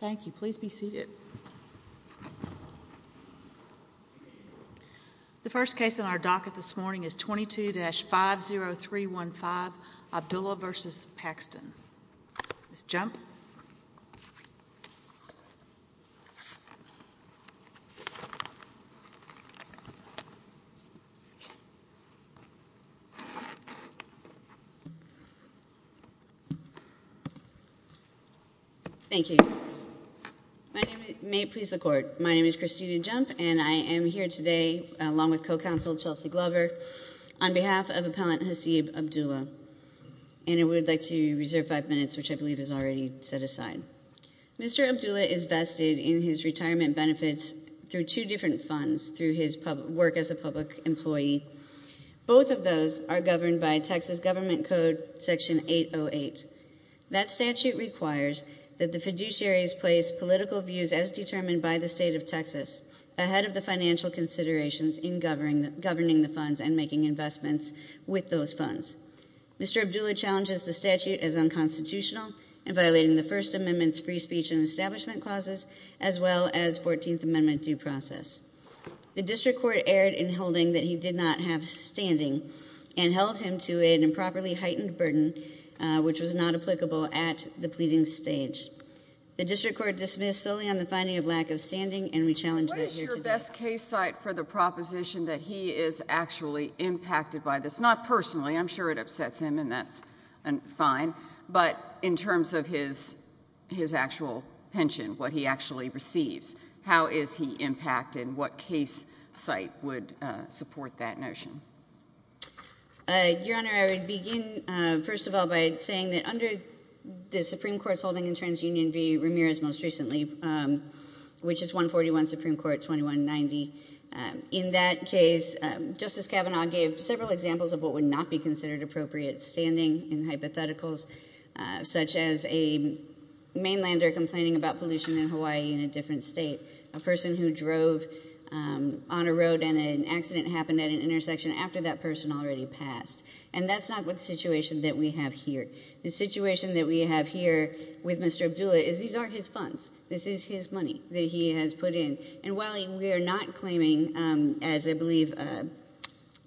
Thank you. Please be seated. The first case on our docket this morning is 22-50315, Abdulla v. Paxton. Ms. Jump. Thank you. May it please the court. My name is Kristina Jump and I am here today along with co-counsel Chelsea Glover on behalf of Appellant Hasib Abdulla. And I would like to reserve five minutes, which I believe is already set aside. Mr. Abdulla is vested in his retirement benefits through two different funds, through his work as a public employee. Both of those are governed by Texas Government Code Section 808. That statute requires that the fiduciaries place political views as determined by the state of Texas ahead of the financial considerations in governing the funds and making investments with those funds. Mr. Abdulla challenges the statute as unconstitutional in violating the First Amendment's free speech and establishment clauses, as well as 14th Amendment due process. The district court erred in holding that he did not have standing and held him to an improperly heightened burden, which was not applicable at the pleading stage. The district court dismissed solely on the finding of lack of standing and we challenge that here today. What is your best case site for the proposition that he is actually impacted by this? Not personally. I'm sure it upsets him, and that's fine. But in terms of his actual pension, what he actually receives, how is he impacted, and what case site would support that notion? Your Honor, I would begin, first of all, by saying that under the Supreme Court's holding in TransUnion v. Ramirez most recently, which is 141 Supreme Court 2190, in that case, Justice Abdulla did not be considered appropriate standing in hypotheticals, such as a mainlander complaining about pollution in Hawaii in a different state, a person who drove on a road and an accident happened at an intersection after that person already passed. And that's not the situation that we have here. The situation that we have here with Mr. Abdulla is these are his funds. This is his money that he has put in. And while we are not claiming, as I believe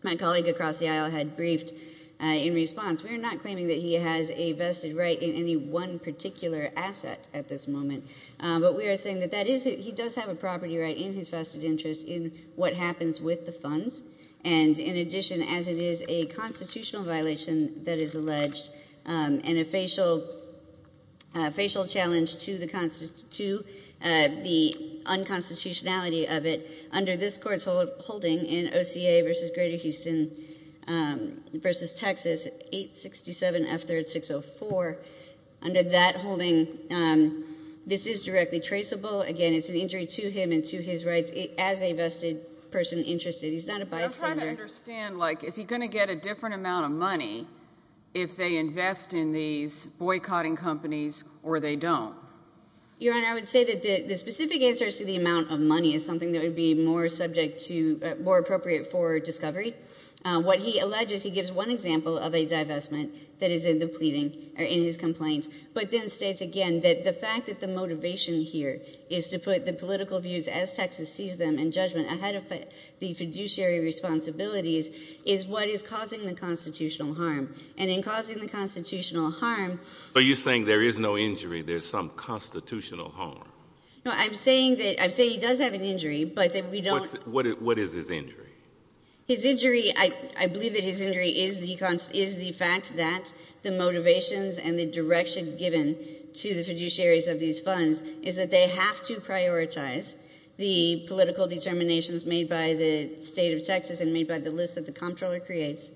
my colleague across the aisle had briefed in response, we are not claiming that he has a vested right in any one particular asset at this moment. But we are saying that that is it. He does have a property right in his vested interest in what happens with the funds. And in addition, as it is a constitutional violation that is alleged and a facial challenge to the unconstitutionality of it, under this Court's holding in OCA v. Greater Houston v. Texas, 867 F. 3rd 604, under that holding, this is directly traceable. Again, it's an injury to him and to his rights as a vested person interested. He's not a bystander. I'm trying to understand, like, is he going to get a different amount of money if they don't? Your Honor, I would say that the specific answers to the amount of money is something that would be more subject to, more appropriate for discovery. What he alleges, he gives one example of a divestment that is in the pleading or in his complaints, but then states again that the fact that the motivation here is to put the political views as Texas sees them and judgment ahead of the fiduciary responsibilities is what is causing the constitutional harm. And in causing the constitutional harm— Are you saying there is no injury, there's some constitutional harm? No, I'm saying that, I'm saying he does have an injury, but that we don't— What is his injury? His injury, I believe that his injury is the fact that the motivations and the direction given to the fiduciaries of these funds is that they have to prioritize the political determinations made by the state of Texas and made by the list that the comptroller creates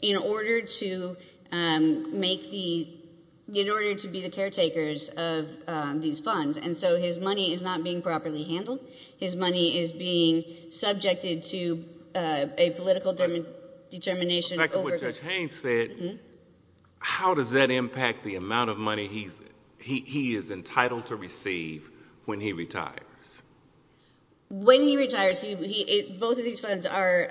in order to make the, in order to be the caretakers of these funds. And so his money is not being properly handled. His money is being subjected to a political determination— But back to what Judge Haynes said, how does that impact the amount of money he is entitled to receive when he retires? When he retires, both of these funds are,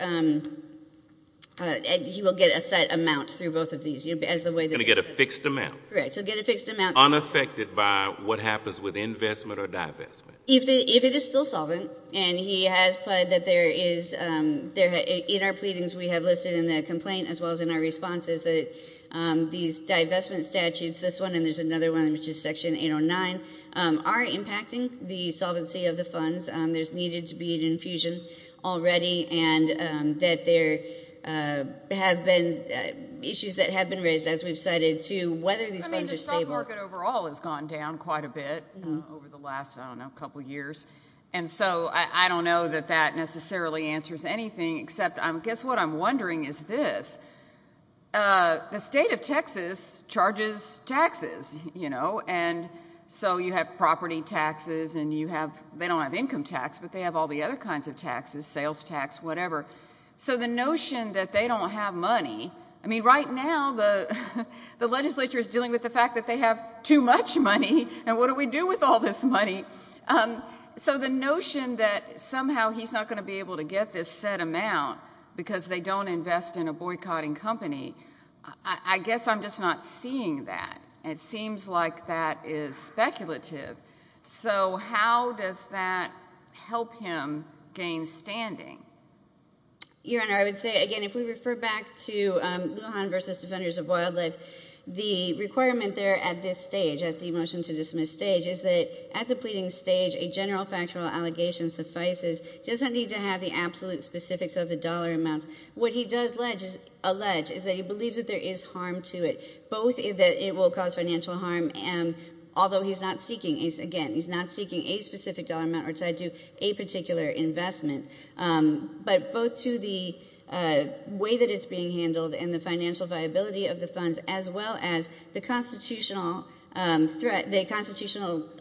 he will get a set amount through both of these, as the way— He's going to get a fixed amount. Correct, he'll get a fixed amount. Unaffected by what happens with investment or divestment. If it is still solvent, and he has pled that there is, in our pleadings we have listed in the complaint as well as in our responses that these divestment statutes, this one and there's another one which is section 809, are impacting the solvency of the funds. There's needed to be an infusion already and that there have been issues that have been raised as we've cited to whether these funds are stable. I mean the stock market overall has gone down quite a bit over the last, I don't know, couple years. And so I don't know that that necessarily answers anything except, I guess what I'm wondering is this. The state of Texas charges taxes, you know, and so you have property taxes and you have, they don't have income tax, but they have all the other kinds of taxes, sales tax, whatever. So the notion that they don't have money, I mean right now the legislature is dealing with the fact that they have too much money and what do we do with all this money? So the notion that somehow he's not going to be able to get this set amount because they don't invest in a boycotting company, I guess I'm just not seeing that. It seems like that is speculative. So how does that help him gain standing? Your Honor, I would say again if we refer back to Lujan v. Defenders of Wildlife, the requirement there at this stage, at the motion to dismiss stage, is that at the pleading stage a general factual allegation suffices. He doesn't need to have the absolute specifics of the dollar amounts. What he does allege is that he believes that there is harm to it, both that it will cause financial harm, although he's not seeking, again, he's not seeking a specific dollar amount or tied to a particular investment, but both to the way that it's being handled and the financial viability of the funds as well as the constitutional threat, the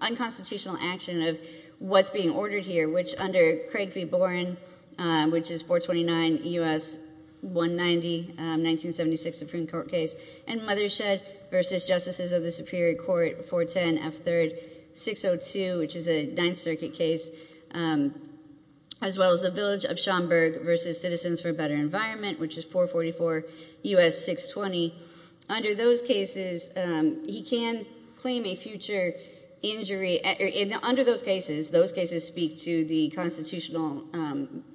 unconstitutional action of what's being ordered here, which under Craig v. Boren, which is 429 U.S. 190 1976 Supreme Court case, and Mothershed v. Justices of the Superior Court 410 F. 3rd 602, which is a Ninth Circuit case, as well as the village of Schomburg v. Citizens for a Better Environment, which is 444 U.S. 620. Under those cases, he can claim a future injury. Under those cases, those cases speak to the constitutional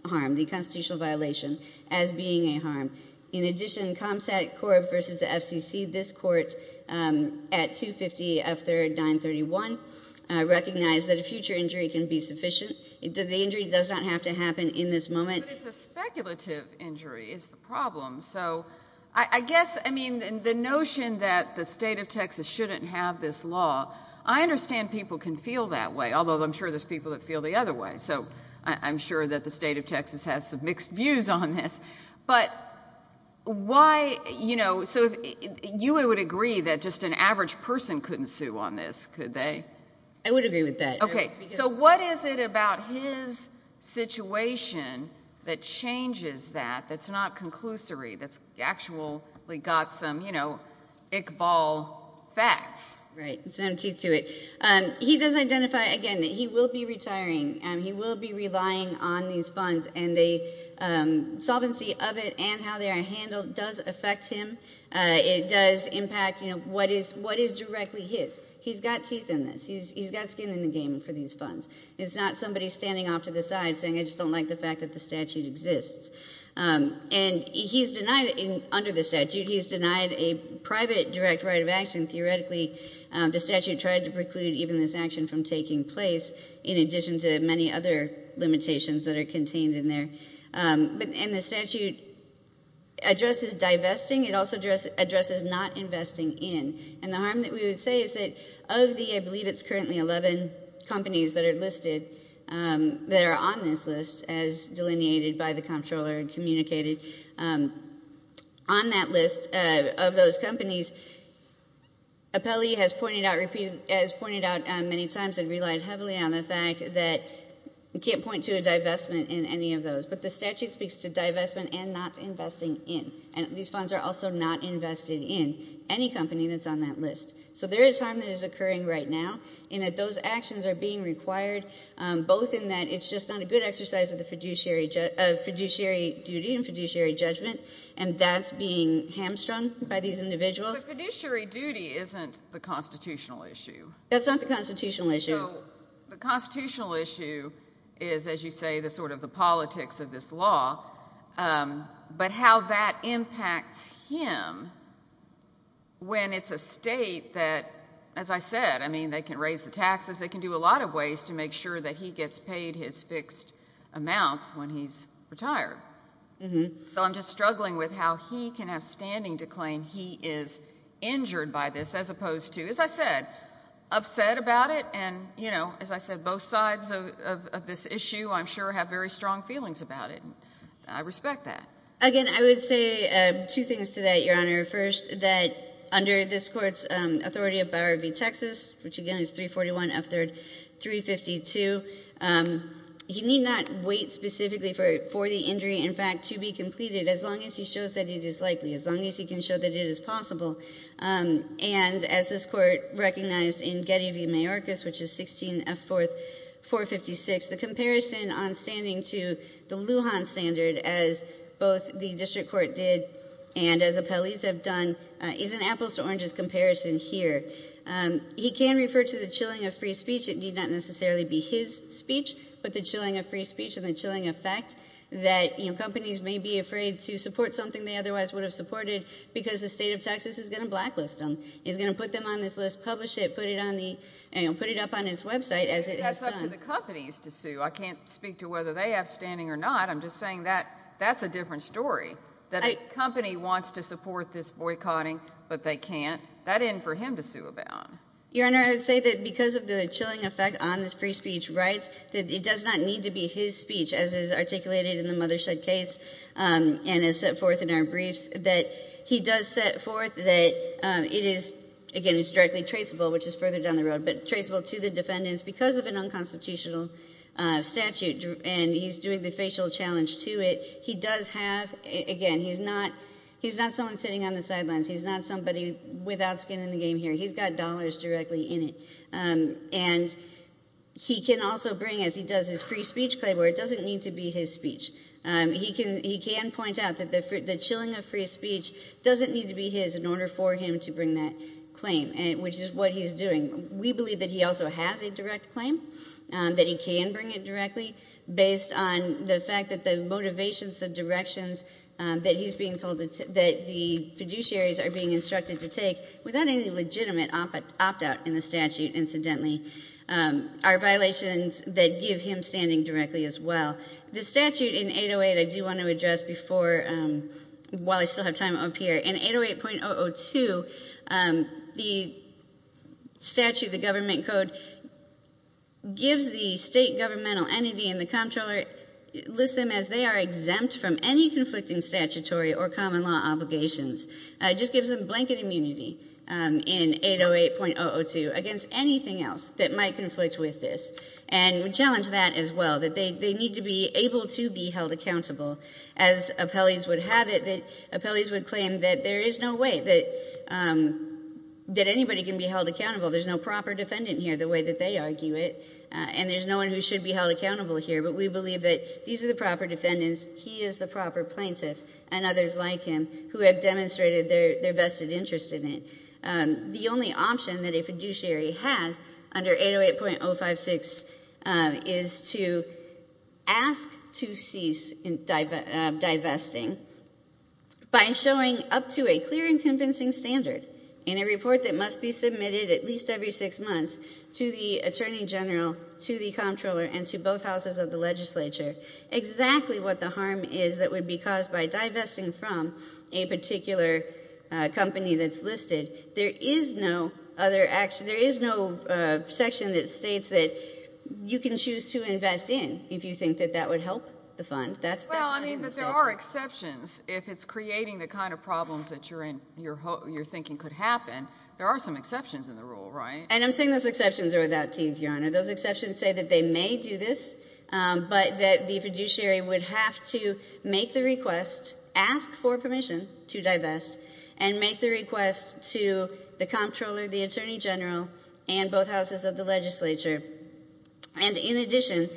harm, the constitutional violation as being a harm. In addition, Comstac Corp. v. FCC, this court at 250 F. 3rd 931 recognized that a future injury can be sufficient, that the injury does not have to happen in this moment. But it's a speculative injury is the problem. So I guess, I mean, the notion that the state of Texas shouldn't have this law, I understand people can feel that way, although I'm sure there's people that feel the other way. So I'm sure that the state of Texas has some mixed views on this. But why, you know, so you would agree that just an average person couldn't sue on this, could they? I would agree with that. Okay. So what is it about his situation that changes that, that's not conclusory, that's actually got some, you know, Iqbal facts? Right. It's got some teeth to it. He does identify, again, that he will be retiring. He will be relying on these funds. And the solvency of it and how they are handled does affect him. It does impact, you know, what is directly his. He's got teeth in this. He's got skin in the game for these funds. It's not somebody standing off to the side saying I just don't like the fact that the statute exists. And he's denied, under the statute, he's denied a private direct right of action. Theoretically, the statute tried to preclude even this action from taking place in addition to many other limitations that are contained in there. And the statute addresses divesting. It also addresses not investing in. And the appellee, I believe it's currently 11 companies that are listed, that are on this list as delineated by the comptroller and communicated. On that list of those companies, appellee has pointed out many times and relied heavily on the fact that you can't point to a divestment in any of those. But the statute speaks to divestment and not investing in. And these funds are also not invested in any company that's on that list. So there is harm that is being done right now in that those actions are being required, both in that it's just not a good exercise of the fiduciary duty and fiduciary judgment. And that's being hamstrung by these individuals. But fiduciary duty isn't the constitutional issue. That's not the constitutional issue. So the constitutional issue is, as you say, the sort of the politics of this law. But how that impacts him when it's a state that, as I said, I mean, they can raise the taxes, they can do a lot of ways to make sure that he gets paid his fixed amounts when he's retired. So I'm just struggling with how he can have standing to claim he is injured by this as opposed to, as I said, upset about it. And, you know, as I said, both sides of this issue, I'm sure, have very strong feelings about it. And I respect that. Again, I would say two things to that, Your Honor. First, that under this Court's authority of Bower v. Texas, which again is 341 F3rd 352, he need not wait specifically for the injury, in fact, to be completed as long as he shows that it is likely, as long as he can show that it is possible. And as this Court recognized in Getty v. Mayorkas, which is 16 F4th 456, the comparison on standing to the Lujan standard as both the District Court did and as appellees have done is an apples to oranges comparison here. He can refer to the chilling of free speech. It need not necessarily be his speech, but the chilling of free speech and the chilling of fact that, you know, companies may be afraid to support something they otherwise would have supported because the state of Texas is going to blacklist them, is going to put them on this list, publish it, put it on the, you know, put it up on its website as it is done. I can't speak to whether they have standing or not. I'm just saying that that's a different story. That if a company wants to support this boycotting, but they can't, that isn't for him to sue about. Your Honor, I would say that because of the chilling effect on his free speech rights, that it does not need to be his speech, as is articulated in the Mothershed case and is set forth in our briefs, that he does set forth that it is, again, it's directly traceable, which is further down the road, but traceable to the defendants because of an unconstitutional statute. And he's doing the facial challenge to it. He does have, again, he's not someone sitting on the sidelines. He's not somebody without skin in the game here. He's got dollars directly in it. And he can also bring, as he does his free speech claim, where it doesn't need to be his speech. He can point out that the chilling of free speech doesn't need to be his in order for him to bring that claim, which is what he's doing. We believe that he also has a direct claim, that he can bring it directly, based on the fact that the motivations, the directions that he's being told, that the fiduciaries are being instructed to take, without any legitimate opt-out in the statute, incidentally, are violations that give him standing directly as well. The statute in 808, I do want to address before, while I still have time up here. In 808.002, the statute, the government code, gives the state governmental entity and the comptroller, lists them as they are exempt from any conflicting statutory or common law obligations. It just gives them blanket immunity in 808.002 against anything else that might conflict with this. And we challenge that as well, that they need to be able to be held accountable. As appellees would have it, that appellees would claim that there is no way that anybody can be held accountable. There's no proper defendant here, the way that they argue it. And there's no one who should be held accountable here. But we believe that these are the proper defendants, he is the proper plaintiff, and others like him who have demonstrated their vested interest in it. The only option that a fiduciary has under 808.056 is to ask to cease divesting by showing up to a clear and convincing standard in a report that must be submitted at least every six months to the attorney general, to the comptroller, and to both houses of the legislature exactly what the harm is that would be caused by divesting from a particular company that's listed. There is no section that states that you can choose to invest in if you think that that would help the fund. Well, I mean, there are exceptions. If it's creating the kind of problems that you're thinking could happen, there are some exceptions in the rule, right? And I'm saying those exceptions are without teeth, Your Honor. Those exceptions say that they may do this, but that the fiduciary would have to make the request, ask for permission to divest, and make the request to the comptroller, the attorney general, and both houses of the legislature. And in addition,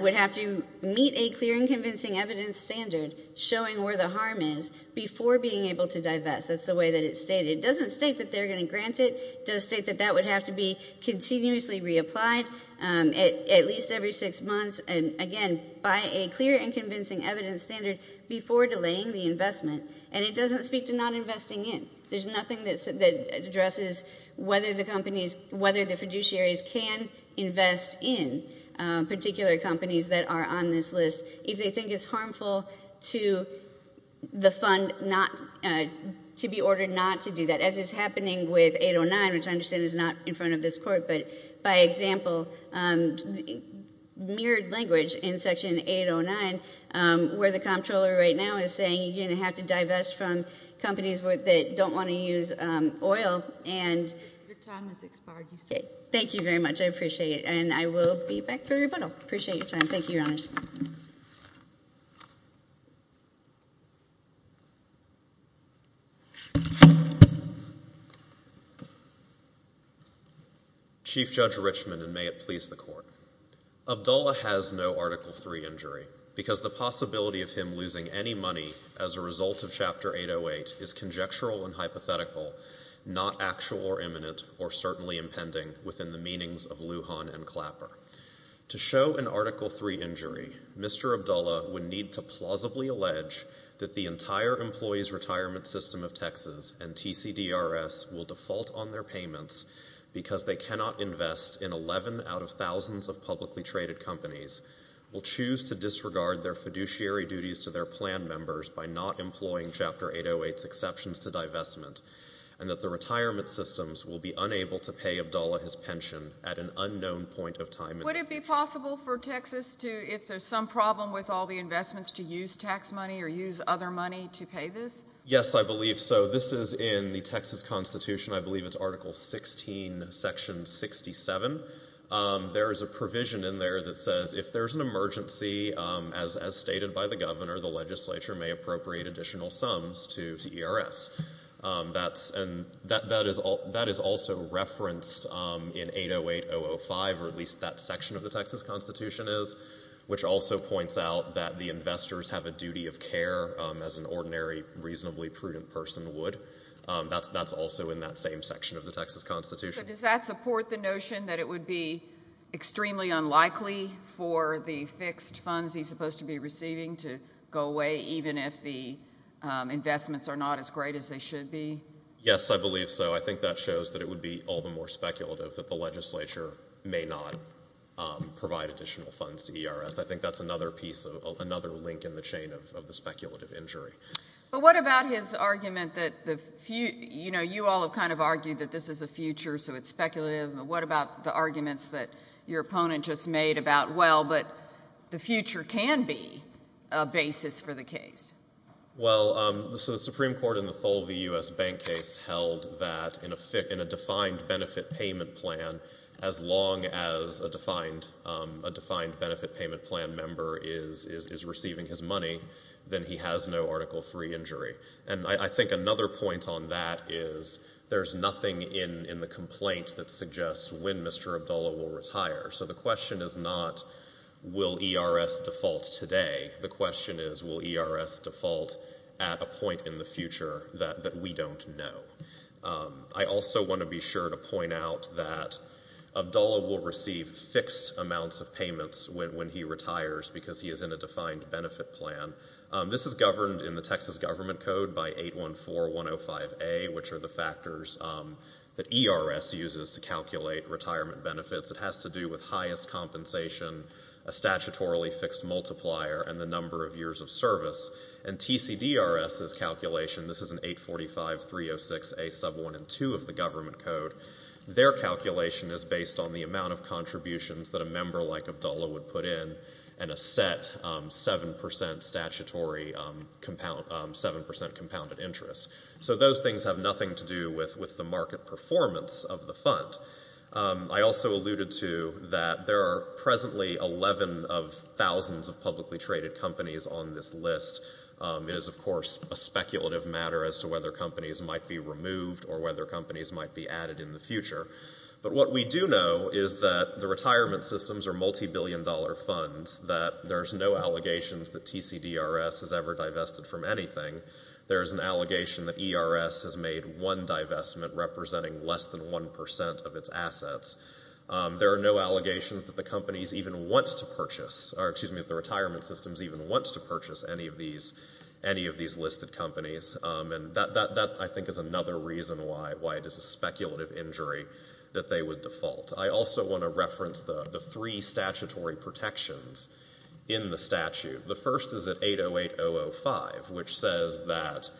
would have to meet a clear and convincing evidence standard showing where the harm is before being able to divest. That's the way that it's stated. It doesn't state that they're going to grant it. It does state that that would have to be continuously reapplied at least every six months, and again, by a clear and convincing evidence standard before delaying the investment. And it doesn't speak to not investing in. There's nothing that addresses whether the companies, whether the fiduciaries can invest in particular companies that are on this list if they think it's harmful to the fund not to be ordered not to do that. As is happening with 809, which I understand is not in front of this court, but by example, mirrored language in Section 809 where the comptroller right now is saying you're going to have to divest from companies that don't want to use oil. Your time has expired. Thank you very much. I appreciate it. And I will be back for rebuttal. I appreciate your time. Thank you, Your Honor. Thank you, judges. Chief Judge Richman, and may it please the court. Abdullah has no Article III injury because the possibility of him losing any money as a result of Chapter 808 is conjectural and hypothetical, not actual or imminent or certainly impending within the meanings of Lujan and Clapper. To show an Article III injury, Mr. Abdullah would need to plausibly allege that the entire employee's retirement system of Texas and TCDRS will default on their payments because they cannot invest in 11 out of thousands of publicly traded companies, will choose to disregard their fiduciary duties to their plan members by not employing Chapter 808's exceptions to divestment, and that the retirement systems will be unable to pay Abdullah his pension at an unknown point of time. Would it be possible for Texas to, if there's some problem with all the investments, to use tax money or use other money to pay this? Yes, I believe so. This is in the Texas Constitution. I believe it's Article 16, Section 67. There is a provision in there that says if there's an emergency, as stated by the governor, the legislature may appropriate additional sums to ERS. That is also referenced in 808.005, or at least that section of the Texas Constitution is, which also points out that the investors have a duty of care, as an ordinary, reasonably prudent person would. That's also in that same section of the Texas Constitution. Does that support the notion that it would be extremely unlikely for the fixed funds he's supposed to be receiving to go away, even if the investments are not as great as they should be? Yes, I believe so. I think that shows that it would be all the more speculative that the legislature may not provide additional funds to ERS. I think that's another piece, another link in the chain of the speculative injury. But what about his argument that, you know, you all have kind of argued that this is the future, so it's speculative. What about the arguments that your opponent just made about, well, but the future can be a basis for the case? Well, so the Supreme Court in the Tholvy U.S. Bank case held that in a defined benefit payment plan, as long as a defined benefit payment plan member is receiving his money, then he has no Article III injury. And I think another point on that is there's nothing in the complaint that suggests when Mr. Abdullah will retire. So the question is not will ERS default today. The question is will ERS default at a point in the future that we don't know. I also want to be sure to point out that Abdullah will receive fixed amounts of payments when he retires because he is in a defined benefit plan. This is governed in the Texas Government Code by 814105A, which are the factors that ERS uses to calculate retirement benefits. It has to do with highest compensation, a statutorily fixed multiplier, and the number of years of service. And TCDRS's calculation, this is an 845306A sub 1 and 2 of the Government Code, their calculation is based on the amount of contributions that a member like Abdullah would put in and a set 7% statutory compound, 7% compounded interest. So those things have nothing to do with the market performance of the fund. I also alluded to that there are presently 11 of thousands of publicly traded companies on this list. It is, of course, a speculative matter as to whether companies might be removed or whether companies might be added in the future. But what we do know is that the retirement systems are multibillion dollar funds, that there's no allegations that TCDRS has ever divested from anything. There is an allegation that ERS has made one divestment representing less than 1% of its assets. There are no allegations that the companies even want to purchase, or excuse me, that the retirement systems even want to purchase any of these listed companies. And that, I think, is another reason why it is a speculative injury that they would default. I also want to reference the three statutory protections in the statute. The first is at 808005, which says that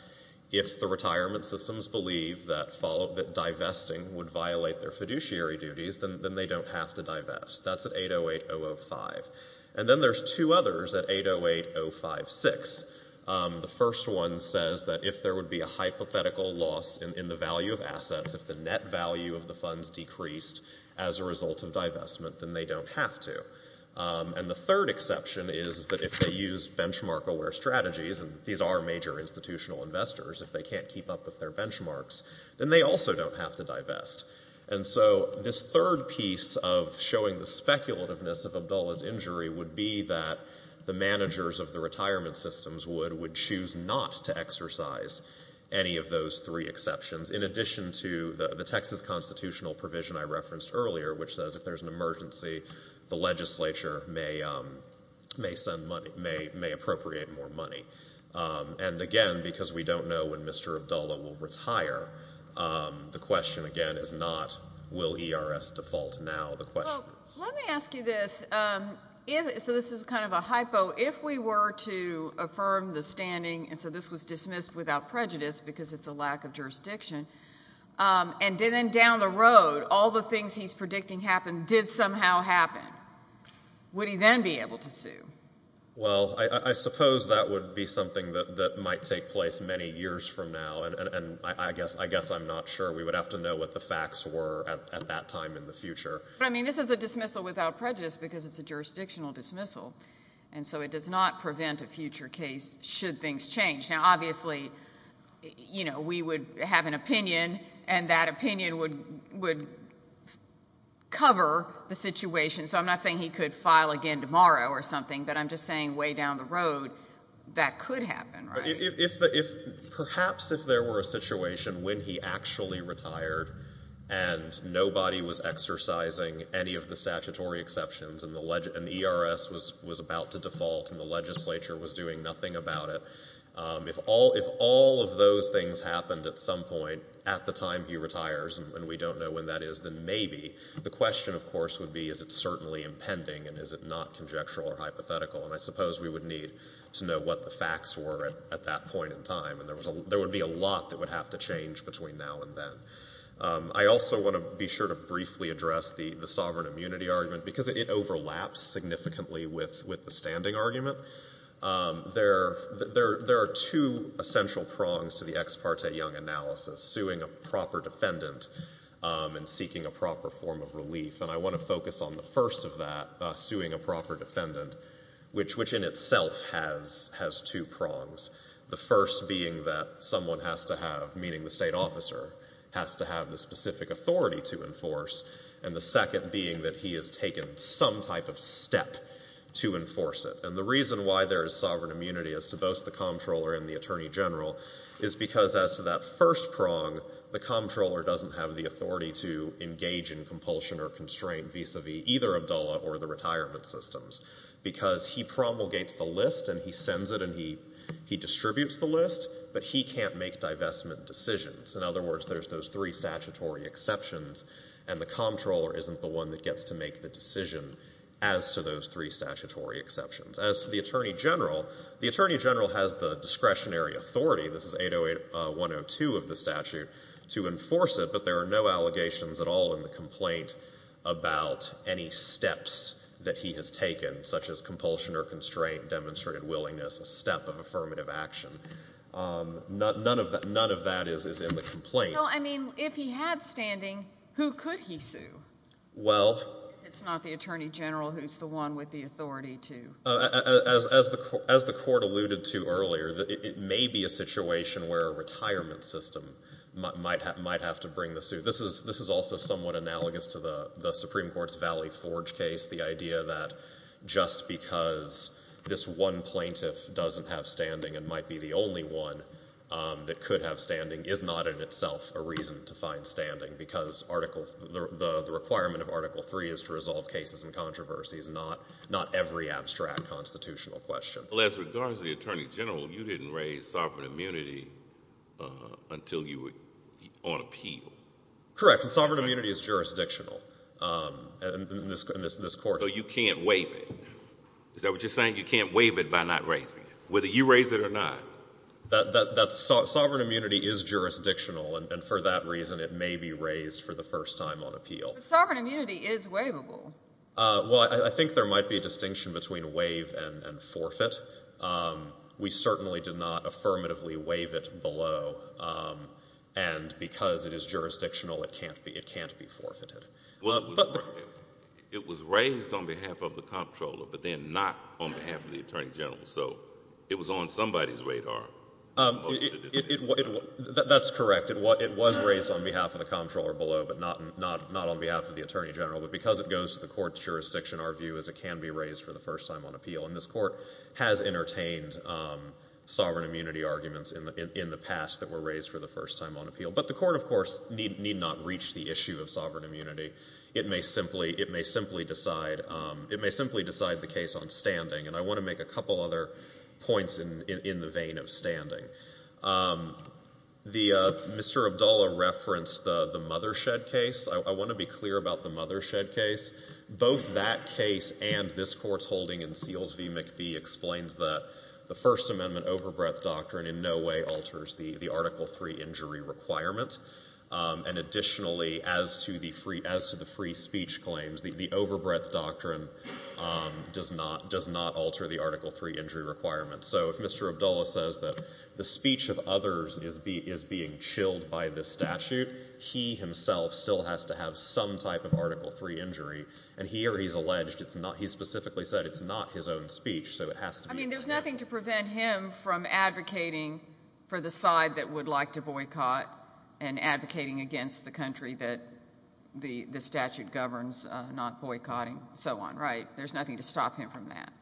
if the retirement systems believe that divesting would violate their fiduciary duties, then they don't have to divest. That's at 808005. And then there's two others at 808056. The first one says that if there would be a hypothetical loss in the value of assets, if the net value of the funds decreased as a result of divestment, then they don't have to. And the third exception is that if they use benchmark-aware strategies, and these are major institutional investors, if they can't keep up with their benchmarks, then they also don't have to divest. And so this third piece of showing the speculativeness of Abdullah's injury would be that the managers of the retirement systems would choose not to exercise any of those three exceptions, in addition to the Texas constitutional provision I referenced earlier, which says if there's an emergency, the legislature may appropriate more money. And, again, because we don't know when Mr. Abdullah will retire, the question, again, is not will ERS default. Now the question is. Well, let me ask you this. So this is kind of a hypo. If we were to affirm the standing, and so this was dismissed without prejudice because it's a lack of jurisdiction, and then down the road all the things he's predicting happened did somehow happen, would he then be able to sue? Well, I suppose that would be something that might take place many years from now, and I guess I'm not sure. We would have to know what the facts were at that time in the future. But, I mean, this is a dismissal without prejudice because it's a jurisdictional dismissal, and so it does not prevent a future case should things change. Now, obviously, you know, we would have an opinion, and that opinion would cover the situation. So I'm not saying he could file again tomorrow or something, but I'm just saying way down the road that could happen, right? Perhaps if there were a situation when he actually retired and nobody was exercising any of the statutory exceptions and the ERS was about to default and the legislature was doing nothing about it, if all of those things happened at some point at the time he retires and we don't know when that is, then maybe. The question, of course, would be is it certainly impending and is it not conjectural or hypothetical, and I suppose we would need to know what the facts were at that point in time, and there would be a lot that would have to change between now and then. I also want to be sure to briefly address the sovereign immunity argument because it overlaps significantly with the standing argument. There are two essential prongs to the Ex parte Young analysis, suing a proper defendant and seeking a proper form of relief, and I want to focus on the first of that, suing a proper defendant, which in itself has two prongs, the first being that someone has to have, meaning the state officer, has to have the specific authority to enforce and the second being that he has taken some type of step to enforce it. And the reason why there is sovereign immunity as to both the comptroller and the attorney general is because as to that first prong, the comptroller doesn't have the authority to engage in compulsion or constraint vis-a-vis either Abdullah or the retirement systems because he promulgates the list and he sends it and he distributes the list, but he can't make divestment decisions. In other words, there's those three statutory exceptions and the comptroller isn't the one that gets to make the decision as to those three statutory exceptions. As to the attorney general, the attorney general has the discretionary authority, this is 80102 of the statute, to enforce it, but there are no allegations at all in the complaint about any steps that he has taken, such as compulsion or constraint, demonstrated willingness, a step of affirmative action. None of that is in the complaint. So, I mean, if he had standing, who could he sue? Well... It's not the attorney general who's the one with the authority to... As the Court alluded to earlier, it may be a situation where a retirement system might have to bring the suit. This is also somewhat analogous to the Supreme Court's Valley Forge case, the idea that just because this one plaintiff doesn't have standing and might be the only one that could have standing is not in itself a reason to find standing because the requirement of Article III is to resolve cases and controversies, not every abstract constitutional question. Well, as regards to the attorney general, you didn't raise sovereign immunity until you were on appeal. Correct, and sovereign immunity is jurisdictional in this Court. So you can't waive it. Is that what you're saying? You can't waive it by not raising it, whether you raise it or not. Sovereign immunity is jurisdictional, and for that reason it may be raised for the first time on appeal. But sovereign immunity is waivable. Well, I think there might be a distinction between waive and forfeit. We certainly did not affirmatively waive it below, and because it is jurisdictional, it can't be forfeited. It was raised on behalf of the comptroller but then not on behalf of the attorney general, so it was on somebody's radar. That's correct. It was raised on behalf of the comptroller below but not on behalf of the attorney general. But because it goes to the Court's jurisdiction, our view is it can be raised for the first time on appeal, and this Court has entertained sovereign immunity arguments in the past that were raised for the first time on appeal. But the Court, of course, need not reach the issue of sovereign immunity. It may simply decide the case on standing, and I want to make a couple other points in the vein of standing. Mr. Abdullah referenced the Mothershed case. I want to be clear about the Mothershed case. Both that case and this Court's holding in Seals v. McBee explains that the First Amendment overbreadth doctrine in no way alters the Article III injury requirement, and additionally, as to the free speech claims, the overbreadth doctrine does not alter the Article III injury requirement. So if Mr. Abdullah says that the speech of others is being chilled by this statute, he himself still has to have some type of Article III injury, and here he's alleged it's not. He specifically said it's not his own speech, so it has to be his own. I mean, there's nothing to prevent him from advocating for the side that would like to boycott and advocating against the country that the statute governs not boycotting and so on, right? There's nothing to stop him from that.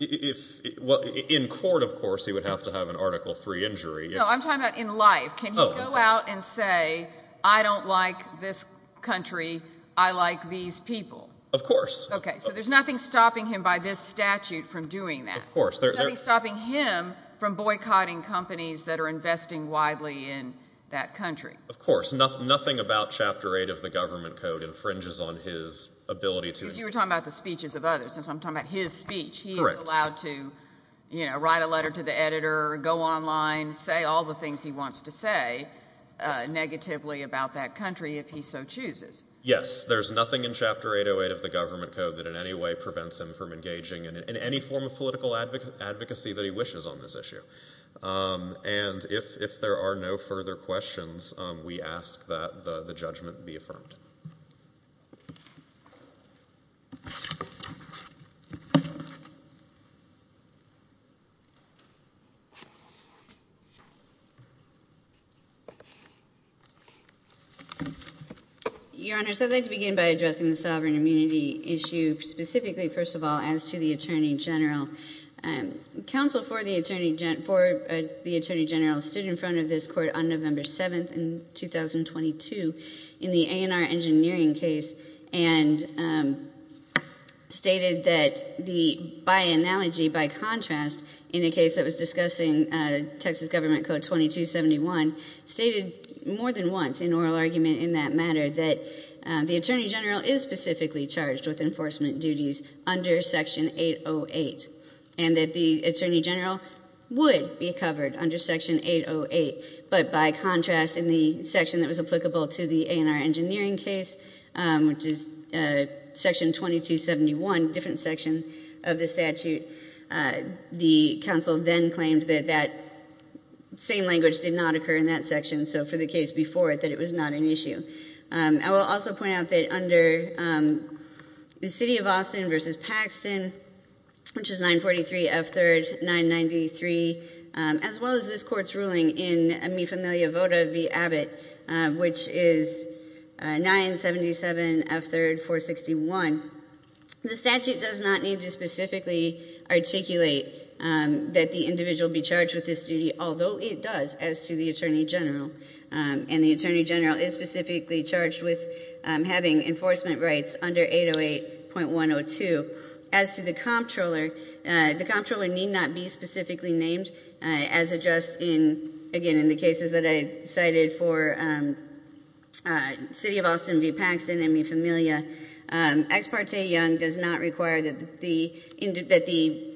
In court, of course, he would have to have an Article III injury. No, I'm talking about in life. Can he go out and say, I don't like this country, I like these people? Of course. Okay, so there's nothing stopping him by this statute from doing that. Of course. There's nothing stopping him from boycotting companies that are investing widely in that country. Of course. Nothing about Chapter 8 of the Government Code infringes on his ability to Because you were talking about the speeches of others, and so I'm talking about his speech. He is allowed to write a letter to the editor, go online, say all the things he wants to say negatively about that country if he so chooses. Yes, there's nothing in Chapter 808 of the Government Code that in any way prevents him from engaging in any form of political advocacy that he wishes on this issue. And if there are no further questions, we ask that the judgment be affirmed. Your Honor, so I'd like to begin by addressing the sovereign immunity issue specifically, first of all, as to the Attorney General. Counsel for the Attorney General stood in front of this court on November 7th in 2022 in the A&R engineering case and stated that by analogy, by contrast, in a case that was discussing Texas Government Code 2271, stated more than once in oral argument in that matter that the Attorney General is specifically charged with enforcement duties under Section 808 and that the Attorney General would be covered under Section 808, but by contrast in the section that was applicable to the A&R engineering case, which is Section 2271, different section of the statute, the counsel then claimed that that same language did not occur in that section, so for the case before it, that it was not an issue. I will also point out that under the City of Austin v. Paxton, which is 943 F. 3rd 993, as well as this court's ruling in Mi Familia Vota v. Abbott, which is 977 F. 3rd 461, the statute does not need to specifically articulate that the individual be charged with this duty, although it does as to the Attorney General, and the Attorney General is specifically charged with having enforcement rights under 808.102. As to the comptroller, the comptroller need not be specifically named, as addressed, again, in the cases that I cited for City of Austin v. Paxton and Mi Familia. Ex parte Young does not require that the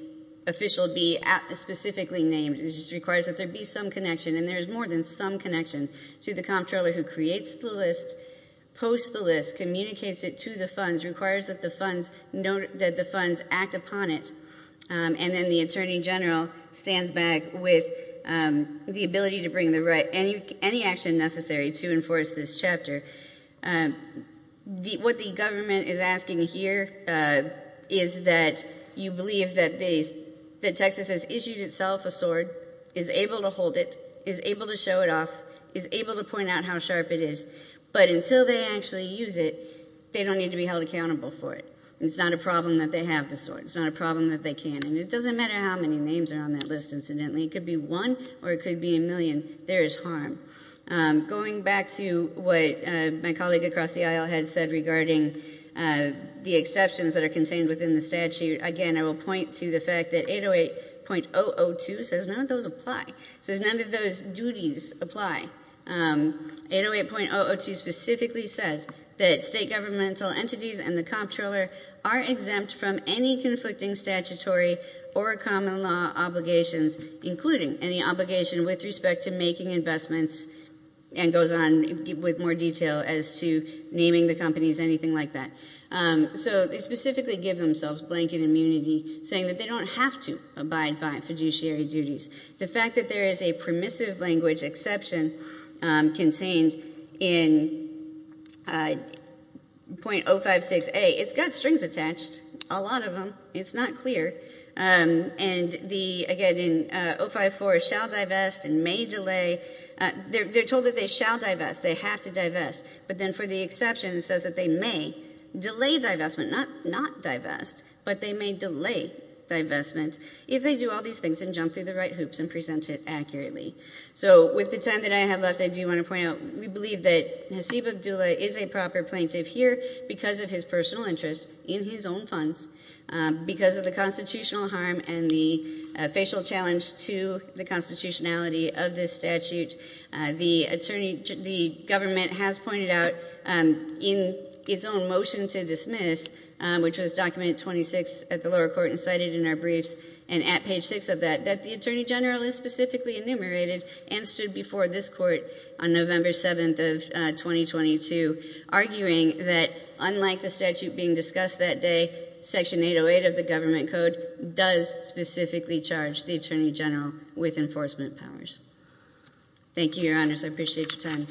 official be specifically named. It just requires that there be some connection, and there is more than some connection to the comptroller who creates the list, posts the list, communicates it to the funds, requires that the funds act upon it, and then the Attorney General stands back with the ability to bring any action necessary to enforce this chapter. What the government is asking here is that you believe that Texas has issued itself a sword, is able to hold it, is able to show it off, is able to point out how sharp it is, but until they actually use it, they don't need to be held accountable for it. It's not a problem that they have the sword. It's not a problem that they can't. And it doesn't matter how many names are on that list, incidentally. It could be one or it could be a million. There is harm. Going back to what my colleague across the aisle had said regarding the exceptions that are contained within the statute, again, I will point to the fact that 808.002 says none of those apply. It says none of those duties apply. 808.002 specifically says that state governmental entities and the comptroller are exempt from any conflicting statutory or common law obligations, including any obligation with respect to making investments and goes on with more detail as to naming the companies, anything like that. So they specifically give themselves blanket immunity, saying that they don't have to abide by fiduciary duties. The fact that there is a permissive language exception contained in 0.056A, it's got strings attached, a lot of them. It's not clear. And, again, in 0.054, shall divest and may delay. They're told that they shall divest. They have to divest. But then for the exception, it says that they may delay divestment, not divest, but they may delay divestment if they do all these things and jump through the right hoops and present it accurately. So with the time that I have left, I do want to point out we believe that Hasib Abdullah is a proper plaintiff here because of his personal interest in his own funds, because of the constitutional harm and the facial challenge to the constitutionality of this statute. The government has pointed out in its own motion to dismiss, which was document 26 at the lower court and cited in our briefs and at page 6 of that, that the attorney general is specifically enumerated and stood before this court on November 7th of 2022, arguing that unlike the statute being discussed that day, Section 808 of the government code does specifically charge the attorney general with enforcement powers. Thank you, Your Honors. I appreciate your time.